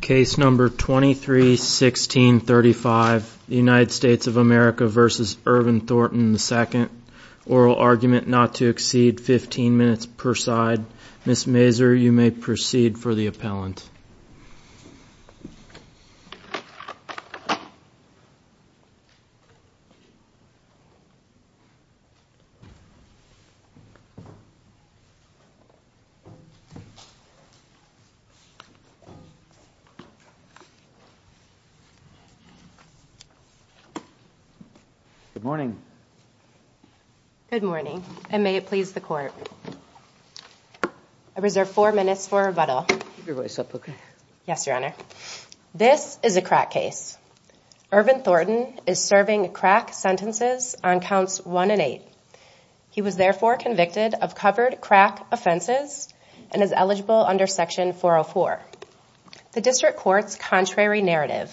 Case number 231635 United States of America v. Ervin Thornton II Oral argument not to exceed 15 minutes per side Ms. Mazur, you may proceed for the appellant Good morning. Good morning, and may it please the court. I reserve four minutes for rebuttal. Keep your voice up, okay? Yes, Your Honor. This is a crack case. Ervin Thornton is serving crack sentences on counts one and eight. He was therefore convicted of covered crack offenses and is eligible under section 404. The district court's contrary narrative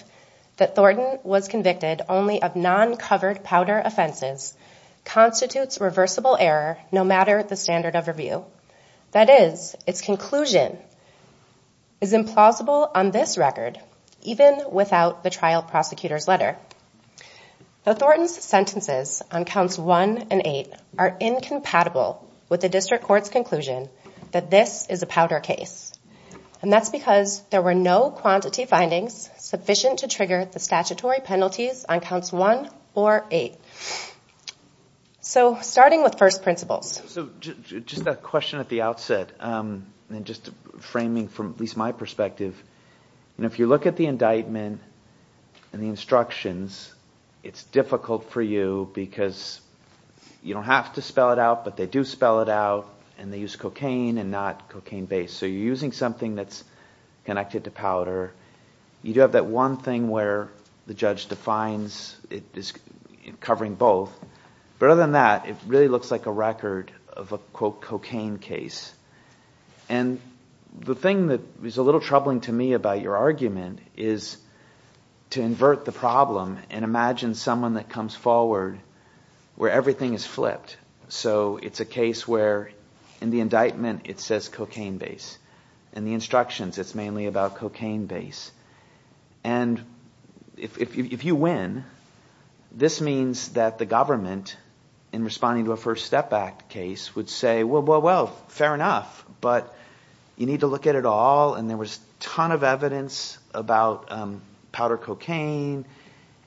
that Thornton was convicted only of non-covered powder offenses constitutes reversible error no matter the standard of review. That is, its conclusion is implausible on this record, even without the trial prosecutor's letter. Now, Thornton's sentences on counts one and eight are incompatible with the district court's conclusion that this is a powder case, and that's because there were no quantity findings sufficient to trigger the statutory penalties on counts one or eight. So, starting with first principles. So, just a question at the outset, and just framing from at least my perspective, if you look at the indictment and the instructions, it's difficult for you because you don't have to spell it out, but they do spell it out, and they use cocaine and not cocaine-based. So, you're using something that's connected to powder. You do have that one thing where the judge defines it as covering both. But other than that, it really looks like a record of a, quote, cocaine case. And the thing that is a little troubling to me about your argument is to invert the problem and imagine someone that comes forward where everything is flipped. So, it's a case where, in the indictment, it says cocaine-based. In the instructions, it's mainly about cocaine-based. And if you win, this means that the government, in responding to a First Step Act case, would say, well, well, well, fair enough, but you need to look at it all. And there was a ton of evidence about powder cocaine.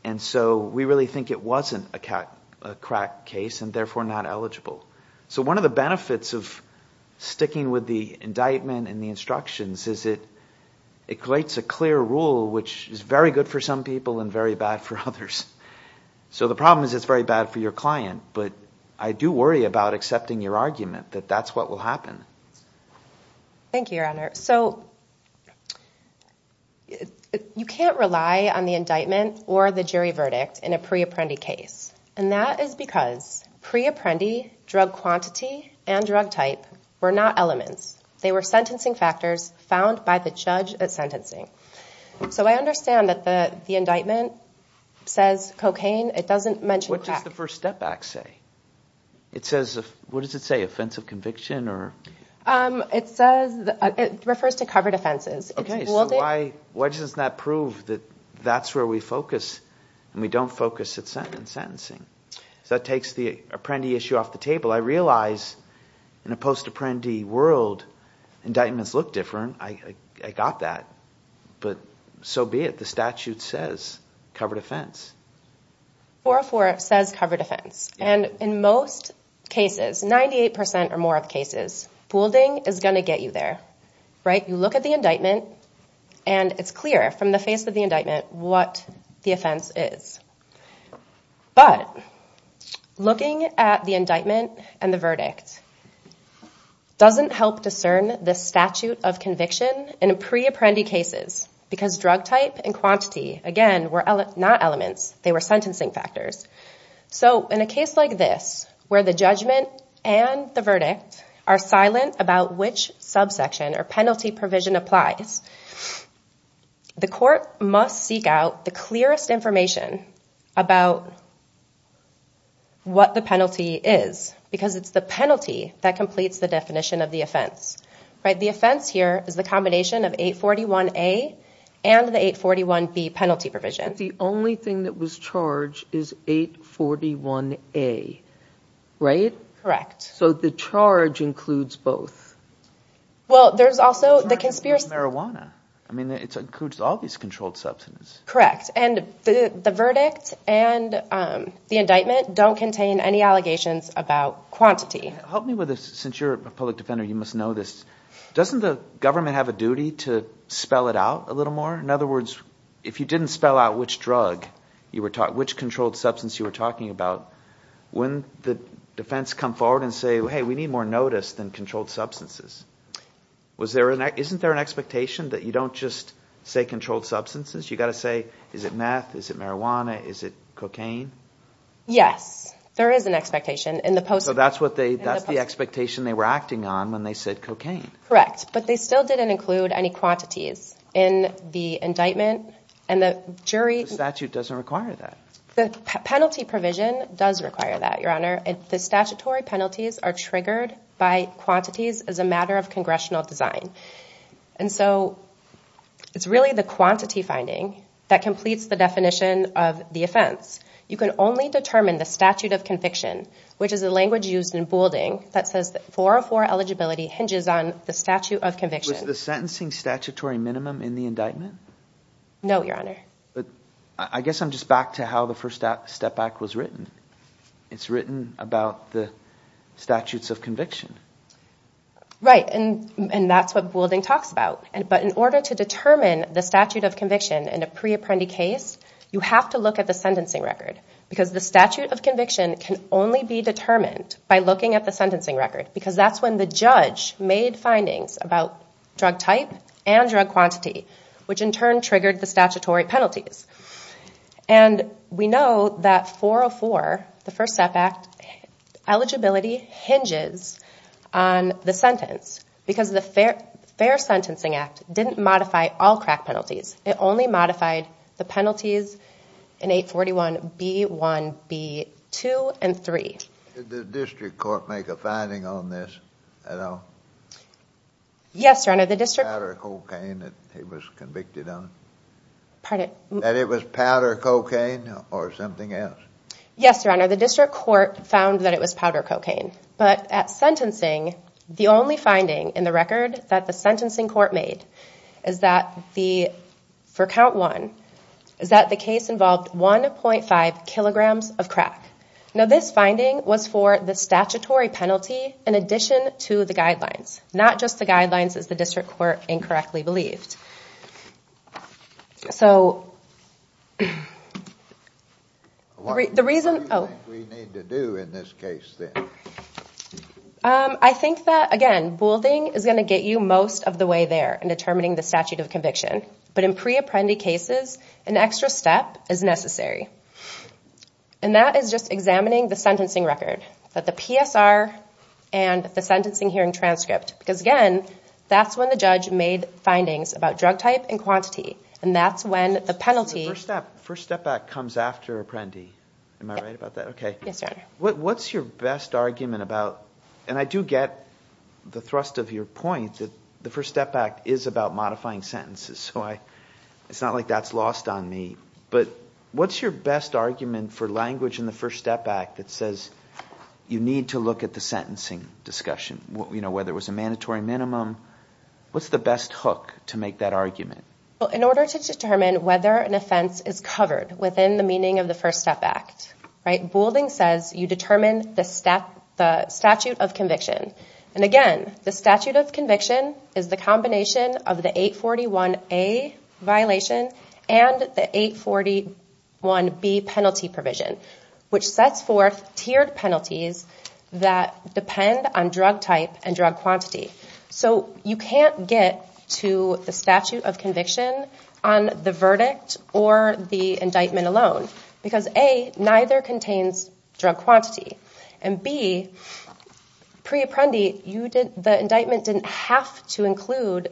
And so we really think it wasn't a crack case and therefore not eligible. So one of the benefits of sticking with the indictment and the instructions is it creates a clear rule, which is very good for some people and very bad for others. So the problem is it's very bad for your client. But I do worry about accepting your argument that that's what will happen. Thank you, Your Honor. So you can't rely on the indictment or the jury verdict in a pre-apprendi case. And that is because pre-apprendi, drug quantity, and drug type were not elements. They were sentencing factors found by the judge at sentencing. So I understand that the indictment says cocaine. It doesn't mention crack. What does the First Step Act say? What does it say, offensive conviction? It says it refers to covered offenses. So why doesn't that prove that that's where we focus and we don't focus on sentencing? So that takes the apprendi issue off the table. I realize in a post-apprendi world, indictments look different. I got that. But so be it. The statute says covered offense. 404 says covered offense. And in most cases, 98% or more of cases, fooling is going to get you there. Right? You look at the indictment, and it's clear from the face of the indictment what the offense is. But looking at the indictment and the verdict doesn't help discern the statute of conviction in pre-apprendi cases because drug type and quantity, again, were not elements. They were sentencing factors. So in a case like this where the judgment and the verdict are silent about which subsection or penalty provision applies, the court must seek out the clearest information about what the penalty is because it's the penalty that completes the definition of the offense. The offense here is the combination of 841A and the 841B penalty provision. But the only thing that was charged is 841A, right? Correct. So the charge includes both. Well, there's also the conspiracy. I mean, it includes all these controlled substances. Correct. And the verdict and the indictment don't contain any allegations about quantity. Help me with this. Since you're a public defender, you must know this. Doesn't the government have a duty to spell it out a little more? In other words, if you didn't spell out which drug you were talking about, which controlled substance you were talking about, when the defense comes forward and says, hey, we need more notice than controlled substances, isn't there an expectation that you don't just say controlled substances? You've got to say, is it meth? Is it marijuana? Is it cocaine? Yes. There is an expectation. So that's the expectation they were acting on when they said cocaine. Correct. But they still didn't include any quantities in the indictment. The statute doesn't require that. The penalty provision does require that, Your Honor. The statutory penalties are triggered by quantities as a matter of congressional design. And so it's really the quantity finding that completes the definition of the offense. You can only determine the statute of conviction, which is a language used in Boulding that says 404 eligibility hinges on the statute of conviction. Was the sentencing statutory minimum in the indictment? No, Your Honor. I guess I'm just back to how the first step back was written. It's written about the statutes of conviction. Right, and that's what Boulding talks about. But in order to determine the statute of conviction in a pre-apprendi case, you have to look at the sentencing record because the statute of conviction can only be determined by looking at the sentencing record because that's when the judge made findings about drug type and drug quantity, which in turn triggered the statutory penalties. And we know that 404, the first step back, eligibility hinges on the sentence because the Fair Sentencing Act didn't modify all crack penalties. It only modified the penalties in 841B1, B2, and 3. Did the district court make a finding on this at all? Yes, Your Honor. Powder cocaine that he was convicted on? Pardon? That it was powder cocaine or something else? Yes, Your Honor. The district court found that it was powder cocaine. But at sentencing, the only finding in the record that the sentencing court made is that for count one, is that the case involved 1.5 kilograms of crack. Now this finding was for the statutory penalty in addition to the guidelines, not just the guidelines as the district court incorrectly believed. So the reason... What do you think we need to do in this case then? I think that, again, building is going to get you most of the way there in determining the statute of conviction. But in pre-apprendi cases, an extra step is necessary. And that is just examining the sentencing record, the PSR, and the sentencing hearing transcript. Because, again, that's when the judge made findings about drug type and quantity. And that's when the penalty... The First Step Act comes after Apprendi. Am I right about that? Yes, Your Honor. What's your best argument about... And I do get the thrust of your point that the First Step Act is about modifying sentences. So it's not like that's lost on me. But what's your best argument for language in the First Step Act that says you need to look at the sentencing discussion, whether it was a mandatory minimum? What's the best hook to make that argument? In order to determine whether an offense is covered within the meaning of the First Step Act, building says you determine the statute of conviction. And, again, the statute of conviction is the combination of the 841A violation and the 841B penalty provision, which sets forth tiered penalties that depend on drug type and drug quantity. So you can't get to the statute of conviction on the verdict or the indictment alone. Because, A, neither contains drug quantity. And, B, pre-Apprendi, the indictment didn't have to include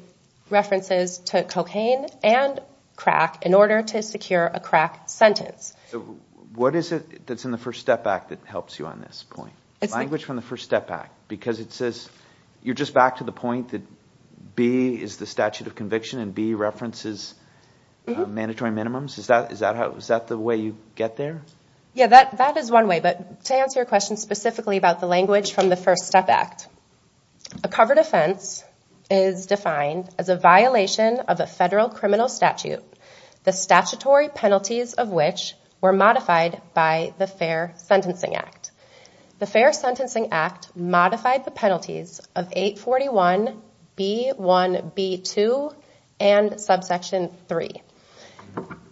references to cocaine and crack in order to secure a crack sentence. What is it that's in the First Step Act that helps you on this point? Language from the First Step Act. Because it says you're just back to the point that B is the statute of conviction and B references mandatory minimums. Is that the way you get there? Yeah, that is one way. But to answer your question specifically about the language from the First Step Act, a covered offense is defined as a violation of a federal criminal statute, the statutory penalties of which were modified by the Fair Sentencing Act. The Fair Sentencing Act modified the penalties of 841B1B2 and subsection 3.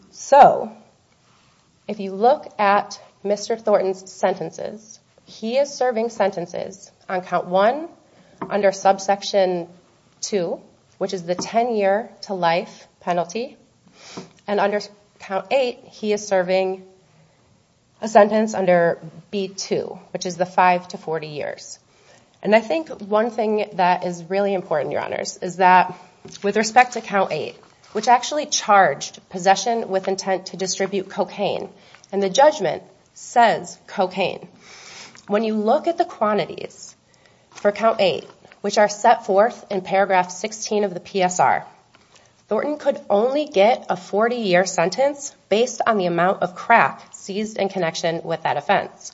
So if you look at Mr. Thornton's sentences, he is serving sentences on Count 1 under subsection 2, which is the 10-year to life penalty. And under Count 8, he is serving a sentence under B2, which is the 5 to 40 years. And I think one thing that is really important, Your Honors, is that with respect to Count 8, which actually charged possession with intent to distribute cocaine, and the judgment says cocaine, when you look at the quantities for Count 8, which are set forth in paragraph 16 of the PSR, Thornton could only get a 40-year sentence based on the amount of crack seized in connection with that offense.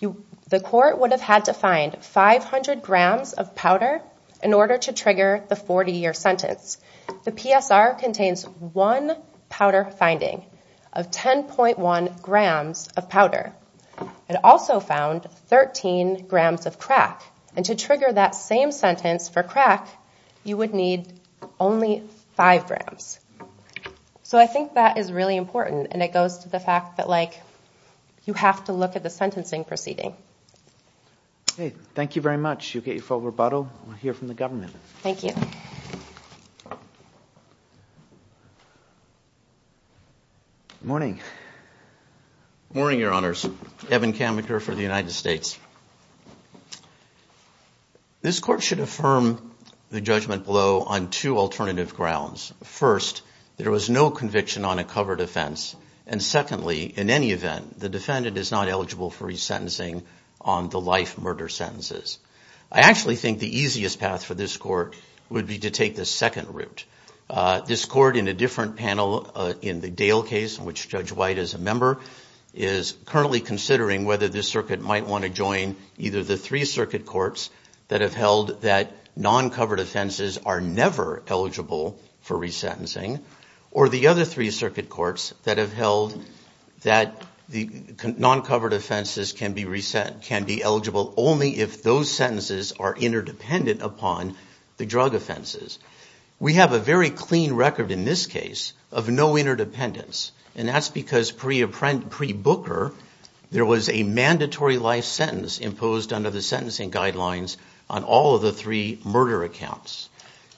The court would have had to find 500 grams of powder in order to trigger the 40-year sentence. The PSR contains one powder finding of 10.1 grams of powder. It also found 13 grams of crack. And to trigger that same sentence for crack, you would need only 5 grams. So I think that is really important, and it goes to the fact that you have to look at the sentencing proceeding. Okay, thank you very much. You get your full rebuttal. We'll hear from the government. Thank you. Good morning. Good morning, Your Honors. Evan Kammacher for the United States. This court should affirm the judgment below on two alternative grounds. First, there was no conviction on a covered offense. And secondly, in any event, the defendant is not eligible for resentencing on the life murder sentences. I actually think the easiest path for this court would be to take the second route. This court in a different panel in the Dale case, in which Judge White is a member, is currently considering whether this circuit might want to join either the three circuit courts that have held that non-covered offenses are never eligible for resentencing, or the other three circuit courts that have held that the non-covered offenses can be eligible only if those sentences are interdependent upon the drug offenses. We have a very clean record in this case of no interdependence, and that's because pre-Booker, there was a mandatory life sentence imposed under the sentencing guidelines on all of the three murder accounts.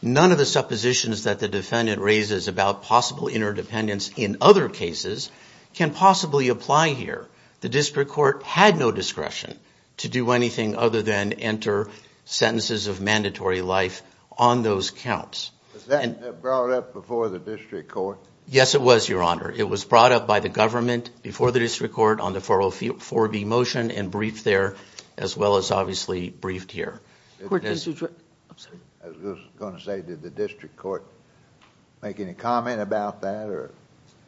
None of the suppositions that the defendant raises about possible interdependence in other cases can possibly apply here. The district court had no discretion to do anything other than enter sentences of mandatory life on those counts. Was that brought up before the district court? Yes, it was, Your Honor. It was brought up by the government before the district court on the 404B motion and briefed there as well as obviously briefed here. I was just going to say, did the district court make any comment about that?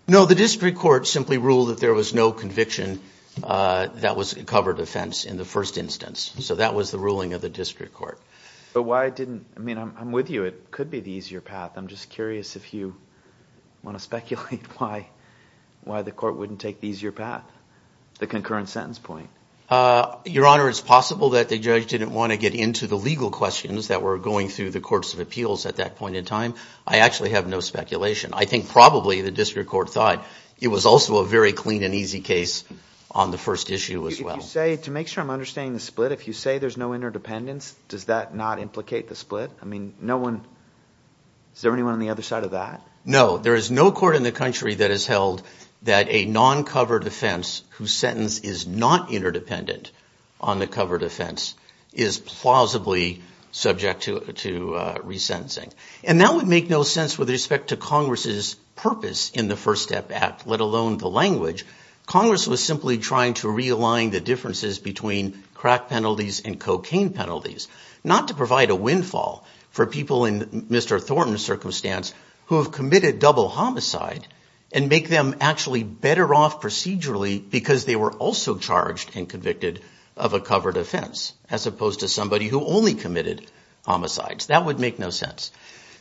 No, the district court simply ruled that there was no conviction that was a covered offense in the first instance. So that was the ruling of the district court. But why didn't, I mean, I'm with you, it could be the easier path. I'm just curious if you want to speculate why the court wouldn't take the easier path, the concurrent sentence point. Your Honor, it's possible that the judge didn't want to get into the legal questions that were going through the courts of appeals at that point in time. I actually have no speculation. I think probably the district court thought it was also a very clean and easy case on the first issue as well. If you say, to make sure I'm understanding the split, if you say there's no interdependence, does that not implicate the split? I mean, no one, is there anyone on the other side of that? No, there is no court in the country that has held that a non-covered offense whose sentence is not interdependent on the covered offense is plausibly subject to resentencing. And that would make no sense with respect to Congress's purpose in the First Step Act, let alone the language. Congress was simply trying to realign the differences between crack penalties and cocaine penalties, not to provide a windfall for people in Mr. Thornton's circumstance who have committed double homicide and make them actually better off procedurally because they were also charged and convicted of a covered offense, as opposed to somebody who only committed homicides. That would make no sense.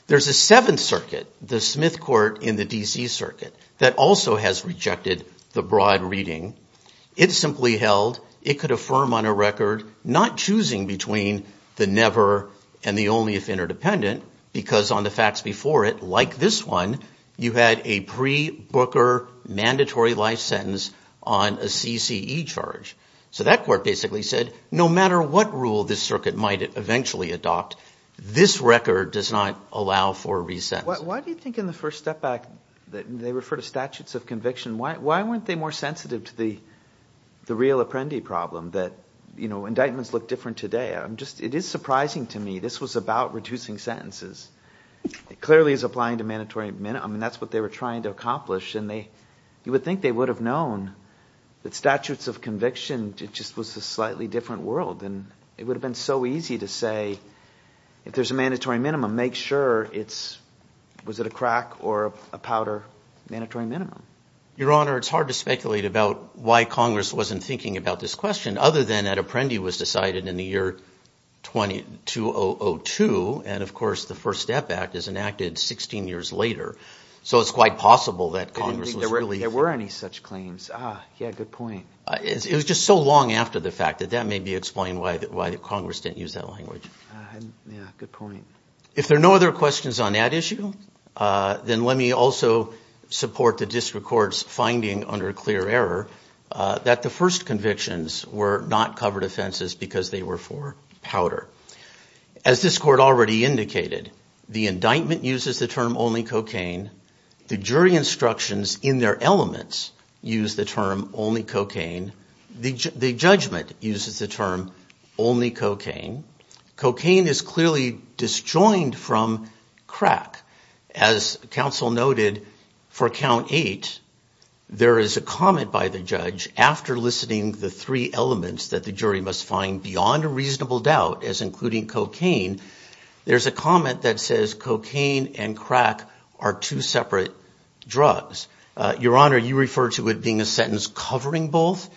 There's a Seventh Circuit, the Smith Court in the D.C. Circuit, that also has rejected the broad reading. It simply held it could affirm on a record, not choosing between the never and the only if interdependent, because on the facts before it, like this one, you had a pre-Booker mandatory life sentence on a CCE charge. So that court basically said, no matter what rule this circuit might eventually adopt, this record does not allow for resentencing. Why do you think in the First Step Act, they refer to statutes of conviction, why weren't they more sensitive to the real Apprendi problem, that indictments look different today? It is surprising to me. This was about reducing sentences. It clearly is applying to mandatory minimum, and that's what they were trying to accomplish, and you would think they would have known that statutes of conviction, it just was a slightly different world, and it would have been so easy to say, if there's a mandatory minimum, make sure it's, was it a crack or a powder mandatory minimum? Your Honor, it's hard to speculate about why Congress wasn't thinking about this question, other than that Apprendi was decided in the year 2002, and of course the First Step Act is enacted 16 years later, so it's quite possible that Congress was really... I didn't think there were any such claims. Ah, yeah, good point. It was just so long after the fact, that that may be explaining why Congress didn't use that language. Yeah, good point. If there are no other questions on that issue, then let me also support the district court's finding, under clear error, that the first convictions were not covered offenses because they were for powder. As this court already indicated, the indictment uses the term only cocaine, the jury instructions in their elements use the term only cocaine, the judgment uses the term only cocaine. Cocaine is clearly disjoined from crack. As counsel noted, for count eight, there is a comment by the judge, after listening to the three elements that the jury must find beyond a reasonable doubt, as including cocaine, there's a comment that says cocaine and crack are two separate drugs. Your Honor, you refer to it being a sentence covering both.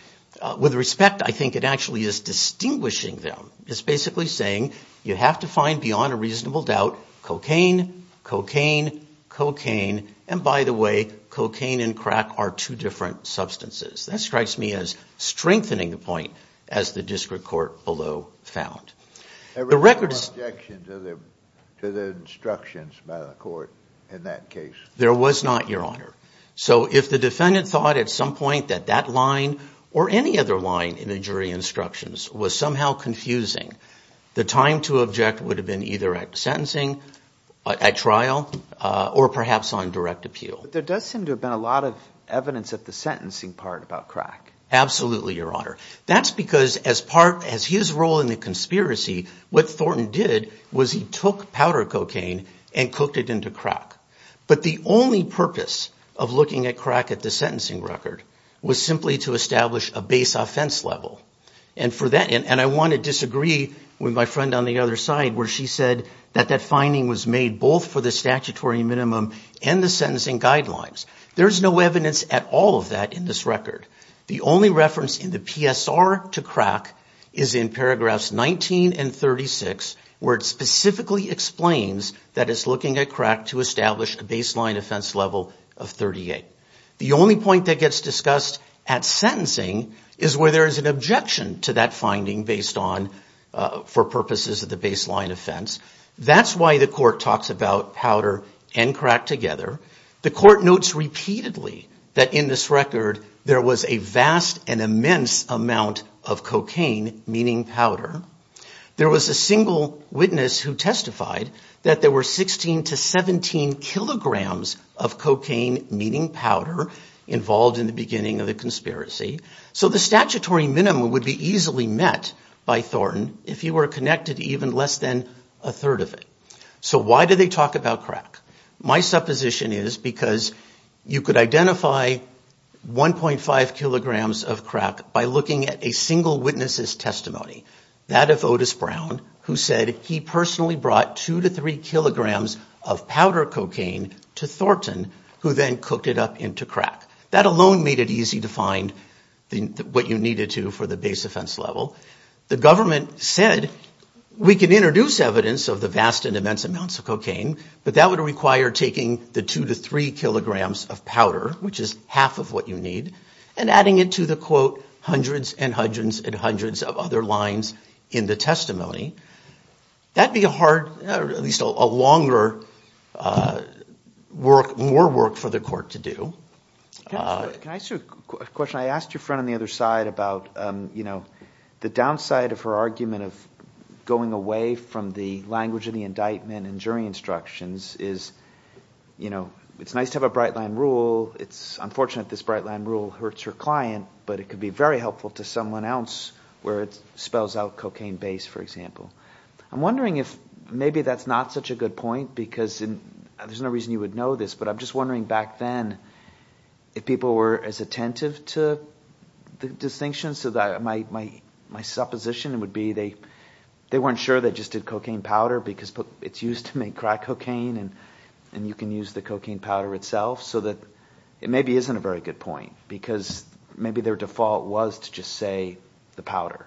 With respect, I think it actually is distinguishing them. It's basically saying, you have to find beyond a reasonable doubt cocaine, cocaine, cocaine, and by the way, cocaine and crack are two different substances. That strikes me as strengthening the point as the district court below found. There was no objection to the instructions by the court in that case. There was not, Your Honor. So if the defendant thought at some point that that line or any other line in the jury instructions was somehow confusing, the time to object would have been either at sentencing, at trial, or perhaps on direct appeal. But there does seem to have been a lot of evidence at the sentencing part about crack. Absolutely, Your Honor. That's because as part, as his role in the conspiracy, what Thornton did was he took powder cocaine and cooked it into crack. But the only purpose of looking at crack at the sentencing record was simply to establish a base offense level. And I want to disagree with my friend on the other side where she said that that finding was made both for the statutory minimum and the sentencing guidelines. There's no evidence at all of that in this record. The only reference in the PSR to crack is in paragraphs 19 and 36 where it specifically explains that it's looking at crack to establish a baseline offense level of 38. The only point that gets discussed at sentencing is where there is an objection to that finding based on, for purposes of the baseline offense. That's why the court talks about powder and crack together. The court notes repeatedly that in this record there was a vast and immense amount of cocaine, meaning powder. There was a single witness who testified that there were 16 to 17 kilograms of cocaine, meaning powder, involved in the beginning of the conspiracy. So the statutory minimum would be easily met by Thornton if you were connected to even less than a third of it. So why do they talk about crack? My supposition is because you could identify 1.5 kilograms of crack by looking at a single witness's testimony, that of Otis Brown, who said he personally brought 2 to 3 kilograms of powder cocaine to Thornton, who then cooked it up into crack. That alone made it easy to find what you needed to for the base offense level. The government said, we can introduce evidence of the vast and immense amounts of cocaine, but that would require taking the 2 to 3 kilograms of powder, which is half of what you need, and adding it to the, quote, hundreds and hundreds and hundreds of other lines in the testimony. That would be a hard, or at least a longer work, more work for the court to do. Can I ask you a question? I asked your friend on the other side about, you know, the downside of her argument of going away from the language of the indictment and jury instructions is, you know, it's nice to have a Breitland rule. It's unfortunate this Breitland rule hurts her client, but it could be very helpful to someone else where it spells out cocaine base, for example. I'm wondering if maybe that's not such a good point, because there's no reason you would know this, but I'm just wondering back then if people were as attentive to the distinction, so that my supposition would be they weren't sure they just did cocaine powder because it's used to make crack cocaine and you can use the cocaine powder itself, so that it maybe isn't a very good point, because maybe their default was to just say the powder.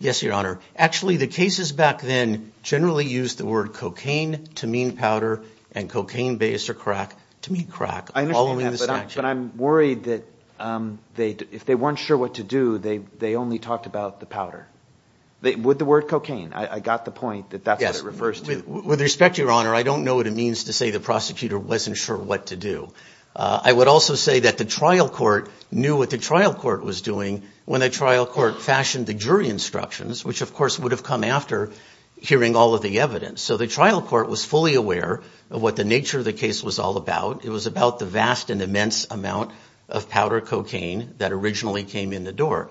Yes, Your Honor. Actually, the cases back then generally used the word cocaine to mean powder and cocaine base or crack to mean crack. I understand that, but I'm worried that if they weren't sure what to do, they only talked about the powder. With the word cocaine, I got the point that that's what it refers to. With respect to Your Honor, I don't know what it means to say the prosecutor wasn't sure what to do. I would also say that the trial court knew what the trial court was doing when the trial court fashioned the jury instructions, which of course would have come after hearing all of the evidence. So the trial court was fully aware of what the nature of the case was all about. It was about the vast and immense amount of powder cocaine that originally came in the door.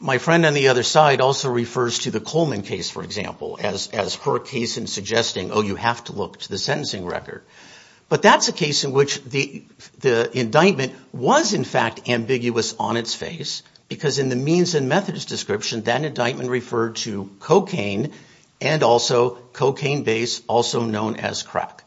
My friend on the other side also refers to the Coleman case, for example, as her case in suggesting, oh, you have to look to the sentencing record. But that's a case in which the indictment was in fact ambiguous on its face because in the means and methods description, that indictment referred to cocaine and also cocaine base, also known as crack.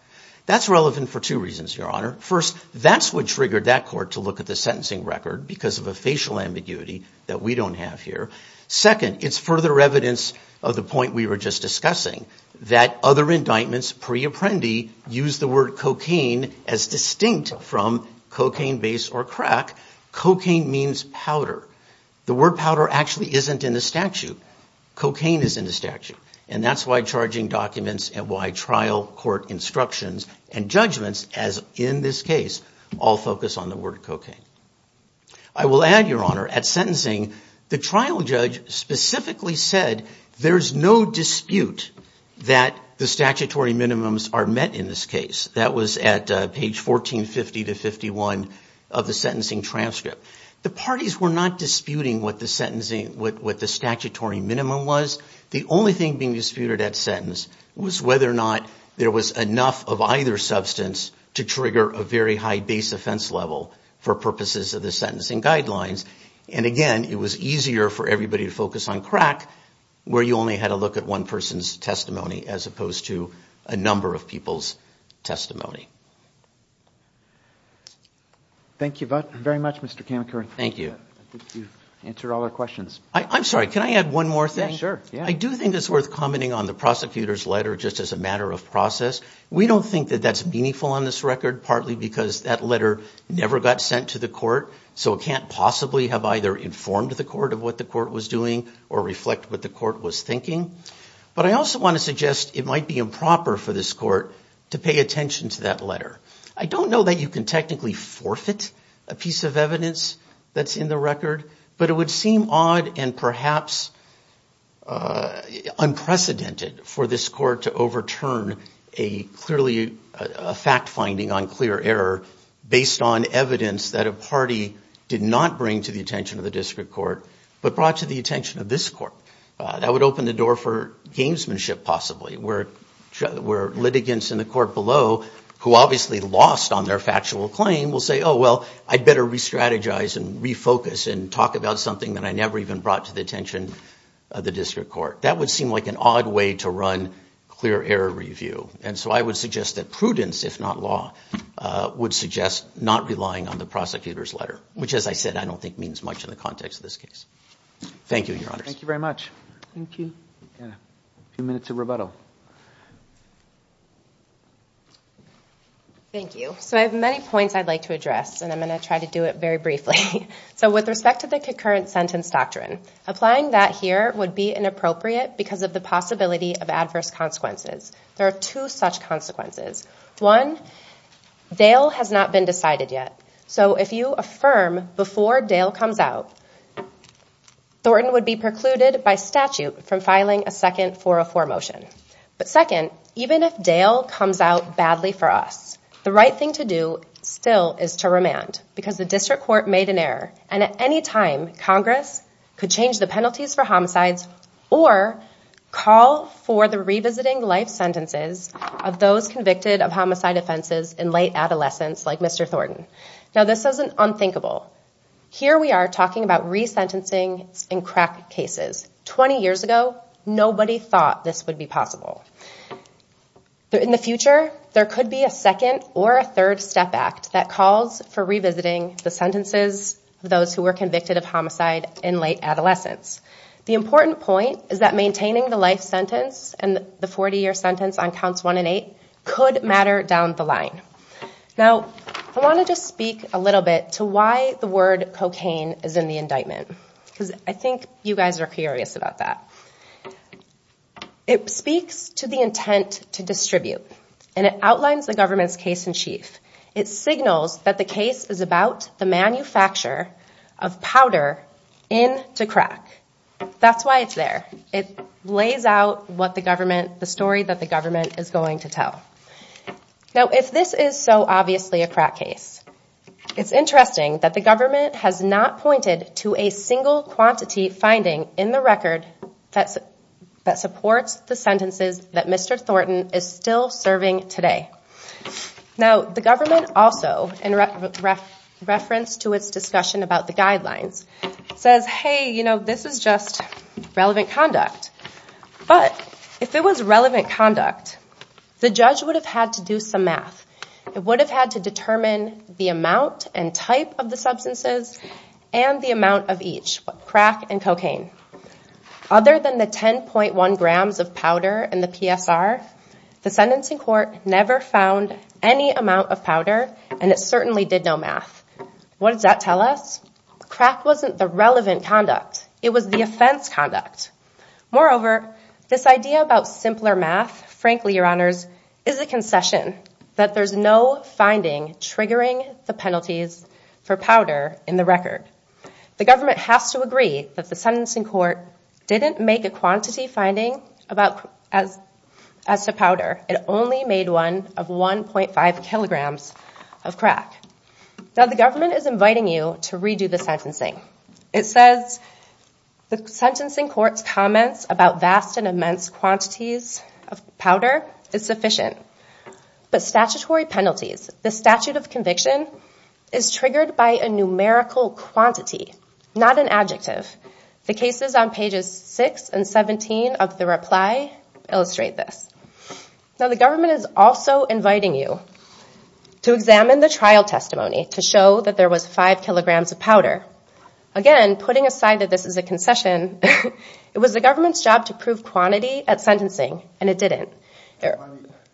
That's relevant for two reasons, Your Honor. First, that's what triggered that court to look at the sentencing record because of a facial ambiguity that we don't have here. Second, it's further evidence of the point we were just discussing that other indictments pre-Apprendi use the word cocaine as distinct from cocaine base or crack. Cocaine means powder. The word powder actually isn't in the statute. Cocaine is in the statute, and that's why charging documents and why trial court instructions and judgments, as in this case, all focus on the word cocaine. I will add, Your Honor, at sentencing, the trial judge specifically said there's no dispute that the statutory minimums are met in this case. That was at page 1450-51 of the sentencing transcript. The parties were not disputing what the statutory minimum was. The only thing being disputed at sentence was whether or not there was enough of either substance to trigger a very high base offense level for purposes of the sentencing guidelines. Again, it was easier for everybody to focus on crack where you only had to look at one person's testimony as opposed to a number of people's testimony. Thank you very much, Mr. Kamakura. Thank you. I think you've answered all our questions. I'm sorry, can I add one more thing? Yeah, sure. I do think it's worth commenting on the prosecutor's letter just as a matter of process. We don't think that that's meaningful on this record, partly because that letter never got sent to the court, so it can't possibly have either informed the court of what the court was doing or reflect what the court was thinking. But I also want to suggest it might be improper for this court to pay attention to that letter. I don't know that you can technically forfeit a piece of evidence that's in the record, but it would seem odd and perhaps unprecedented for this court to overturn a fact finding on clear error based on evidence that a party did not bring to the attention of the district court but brought to the attention of this court. That would open the door for gamesmanship, possibly, where litigants in the court below, who obviously lost on their factual claim, will say, oh, well, I'd better re-strategize and refocus and talk about something that I never even brought to the attention of the district court. That would seem like an odd way to run clear error review. And so I would suggest that prudence, if not law, would suggest not relying on the prosecutor's letter, which, as I said, I don't think means much in the context of this case. Thank you, Your Honors. Thank you very much. Thank you. A few minutes of rebuttal. Thank you. So I have many points I'd like to address, and I'm going to try to do it very briefly. So with respect to the concurrent sentence doctrine, applying that here would be inappropriate because of the possibility of adverse consequences. There are two such consequences. One, Dale has not been decided yet. So if you affirm before Dale comes out, Thornton would be precluded by statute from filing a second 404 motion. But second, even if Dale comes out badly for us, the right thing to do still is to remand because the district court made an error, and at any time Congress could change the penalties for homicides or call for the revisiting life sentences of those convicted of homicide offenses in late adolescence, like Mr. Thornton. Now, this is unthinkable. Here we are talking about resentencing in crack cases. Twenty years ago, nobody thought this would be possible. In the future, there could be a second or a third step act that calls for revisiting the sentences of those who were convicted of homicide in late adolescence. The important point is that maintaining the life sentence and the 40-year sentence on Counts 1 and 8 could matter down the line. Now, I want to just speak a little bit to why the word cocaine is in the indictment because I think you guys are curious about that. It speaks to the intent to distribute, and it outlines the government's case in chief. It signals that the case is about the manufacture of powder into crack. That's why it's there. It lays out the story that the government is going to tell. Now, if this is so obviously a crack case, it's interesting that the government has not pointed to a single quantity finding in the record that supports the sentences that Mr. Thornton is still serving today. Now, the government also, in reference to its discussion about the guidelines, says, hey, you know, this is just relevant conduct. But if it was relevant conduct, the judge would have had to do some math. It would have had to determine the amount and type of the substances and the amount of each, crack and cocaine. Other than the 10.1 grams of powder in the PSR, the sentencing court never found any amount of powder, and it certainly did no math. What does that tell us? Crack wasn't the relevant conduct. It was the offense conduct. Moreover, this idea about simpler math, frankly, Your Honors, is a concession that there's no finding triggering the penalties for powder in the record. The government has to agree that the sentencing court didn't make a quantity finding as to powder. It only made one of 1.5 kilograms of crack. Now, the government is inviting you to redo the sentencing. It says the sentencing court's comments about vast and immense quantities of powder is sufficient. But statutory penalties, the statute of conviction, is triggered by a numerical quantity, not an adjective. The cases on pages 6 and 17 of the reply illustrate this. Now, the government is also inviting you to examine the trial testimony to show that there was 5 kilograms of powder. Again, putting aside that this is a concession, it was the government's job to prove quantity at sentencing, and it didn't.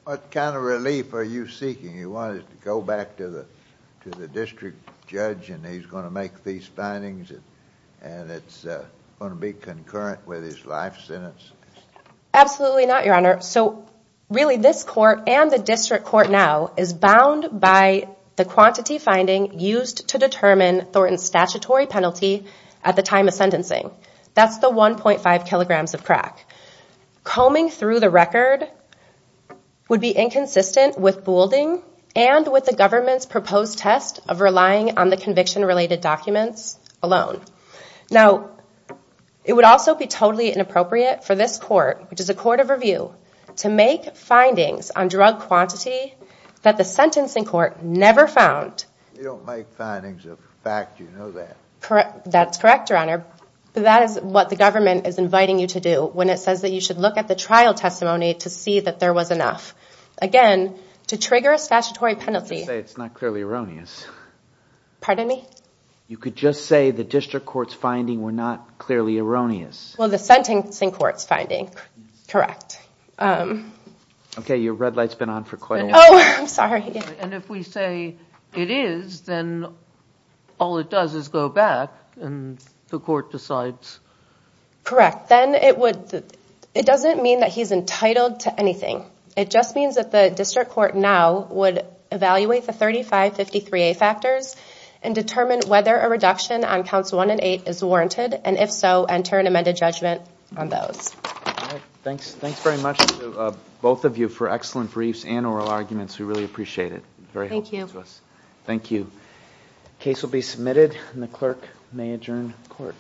What kind of relief are you seeking? You want it to go back to the district judge and he's going to make these findings and it's going to be concurrent with his life sentence? Absolutely not, Your Honor. So, really, this court and the district court now is bound by the quantity finding used to determine Thornton's statutory penalty at the time of sentencing. That's the 1.5 kilograms of crack. Combing through the record would be inconsistent with Boulding and with the government's proposed test of relying on the conviction-related documents alone. Now, it would also be totally inappropriate for this court, which is a court of review, to make findings on drug quantity that the sentencing court never found. You don't make findings of fact, you know that. That's correct, Your Honor. But that is what the government is inviting you to do when it says that you should look at the trial testimony to see that there was enough. Again, to trigger a statutory penalty... You could say it's not clearly erroneous. Pardon me? You could just say the district court's finding were not clearly erroneous. Well, the sentencing court's finding, correct. Okay, your red light's been on for quite a while. Oh, I'm sorry. And if we say it is, then all it does is go back and the court decides... Correct. Then it doesn't mean that he's entitled to anything. It just means that the district court now would evaluate the 3553A factors and determine whether a reduction on counts 1 and 8 is warranted, and if so, enter an amended judgment on those. Thanks very much to both of you for excellent briefs and oral arguments. We really appreciate it. Very helpful to us. Thank you. The case will be submitted, and the clerk may adjourn court.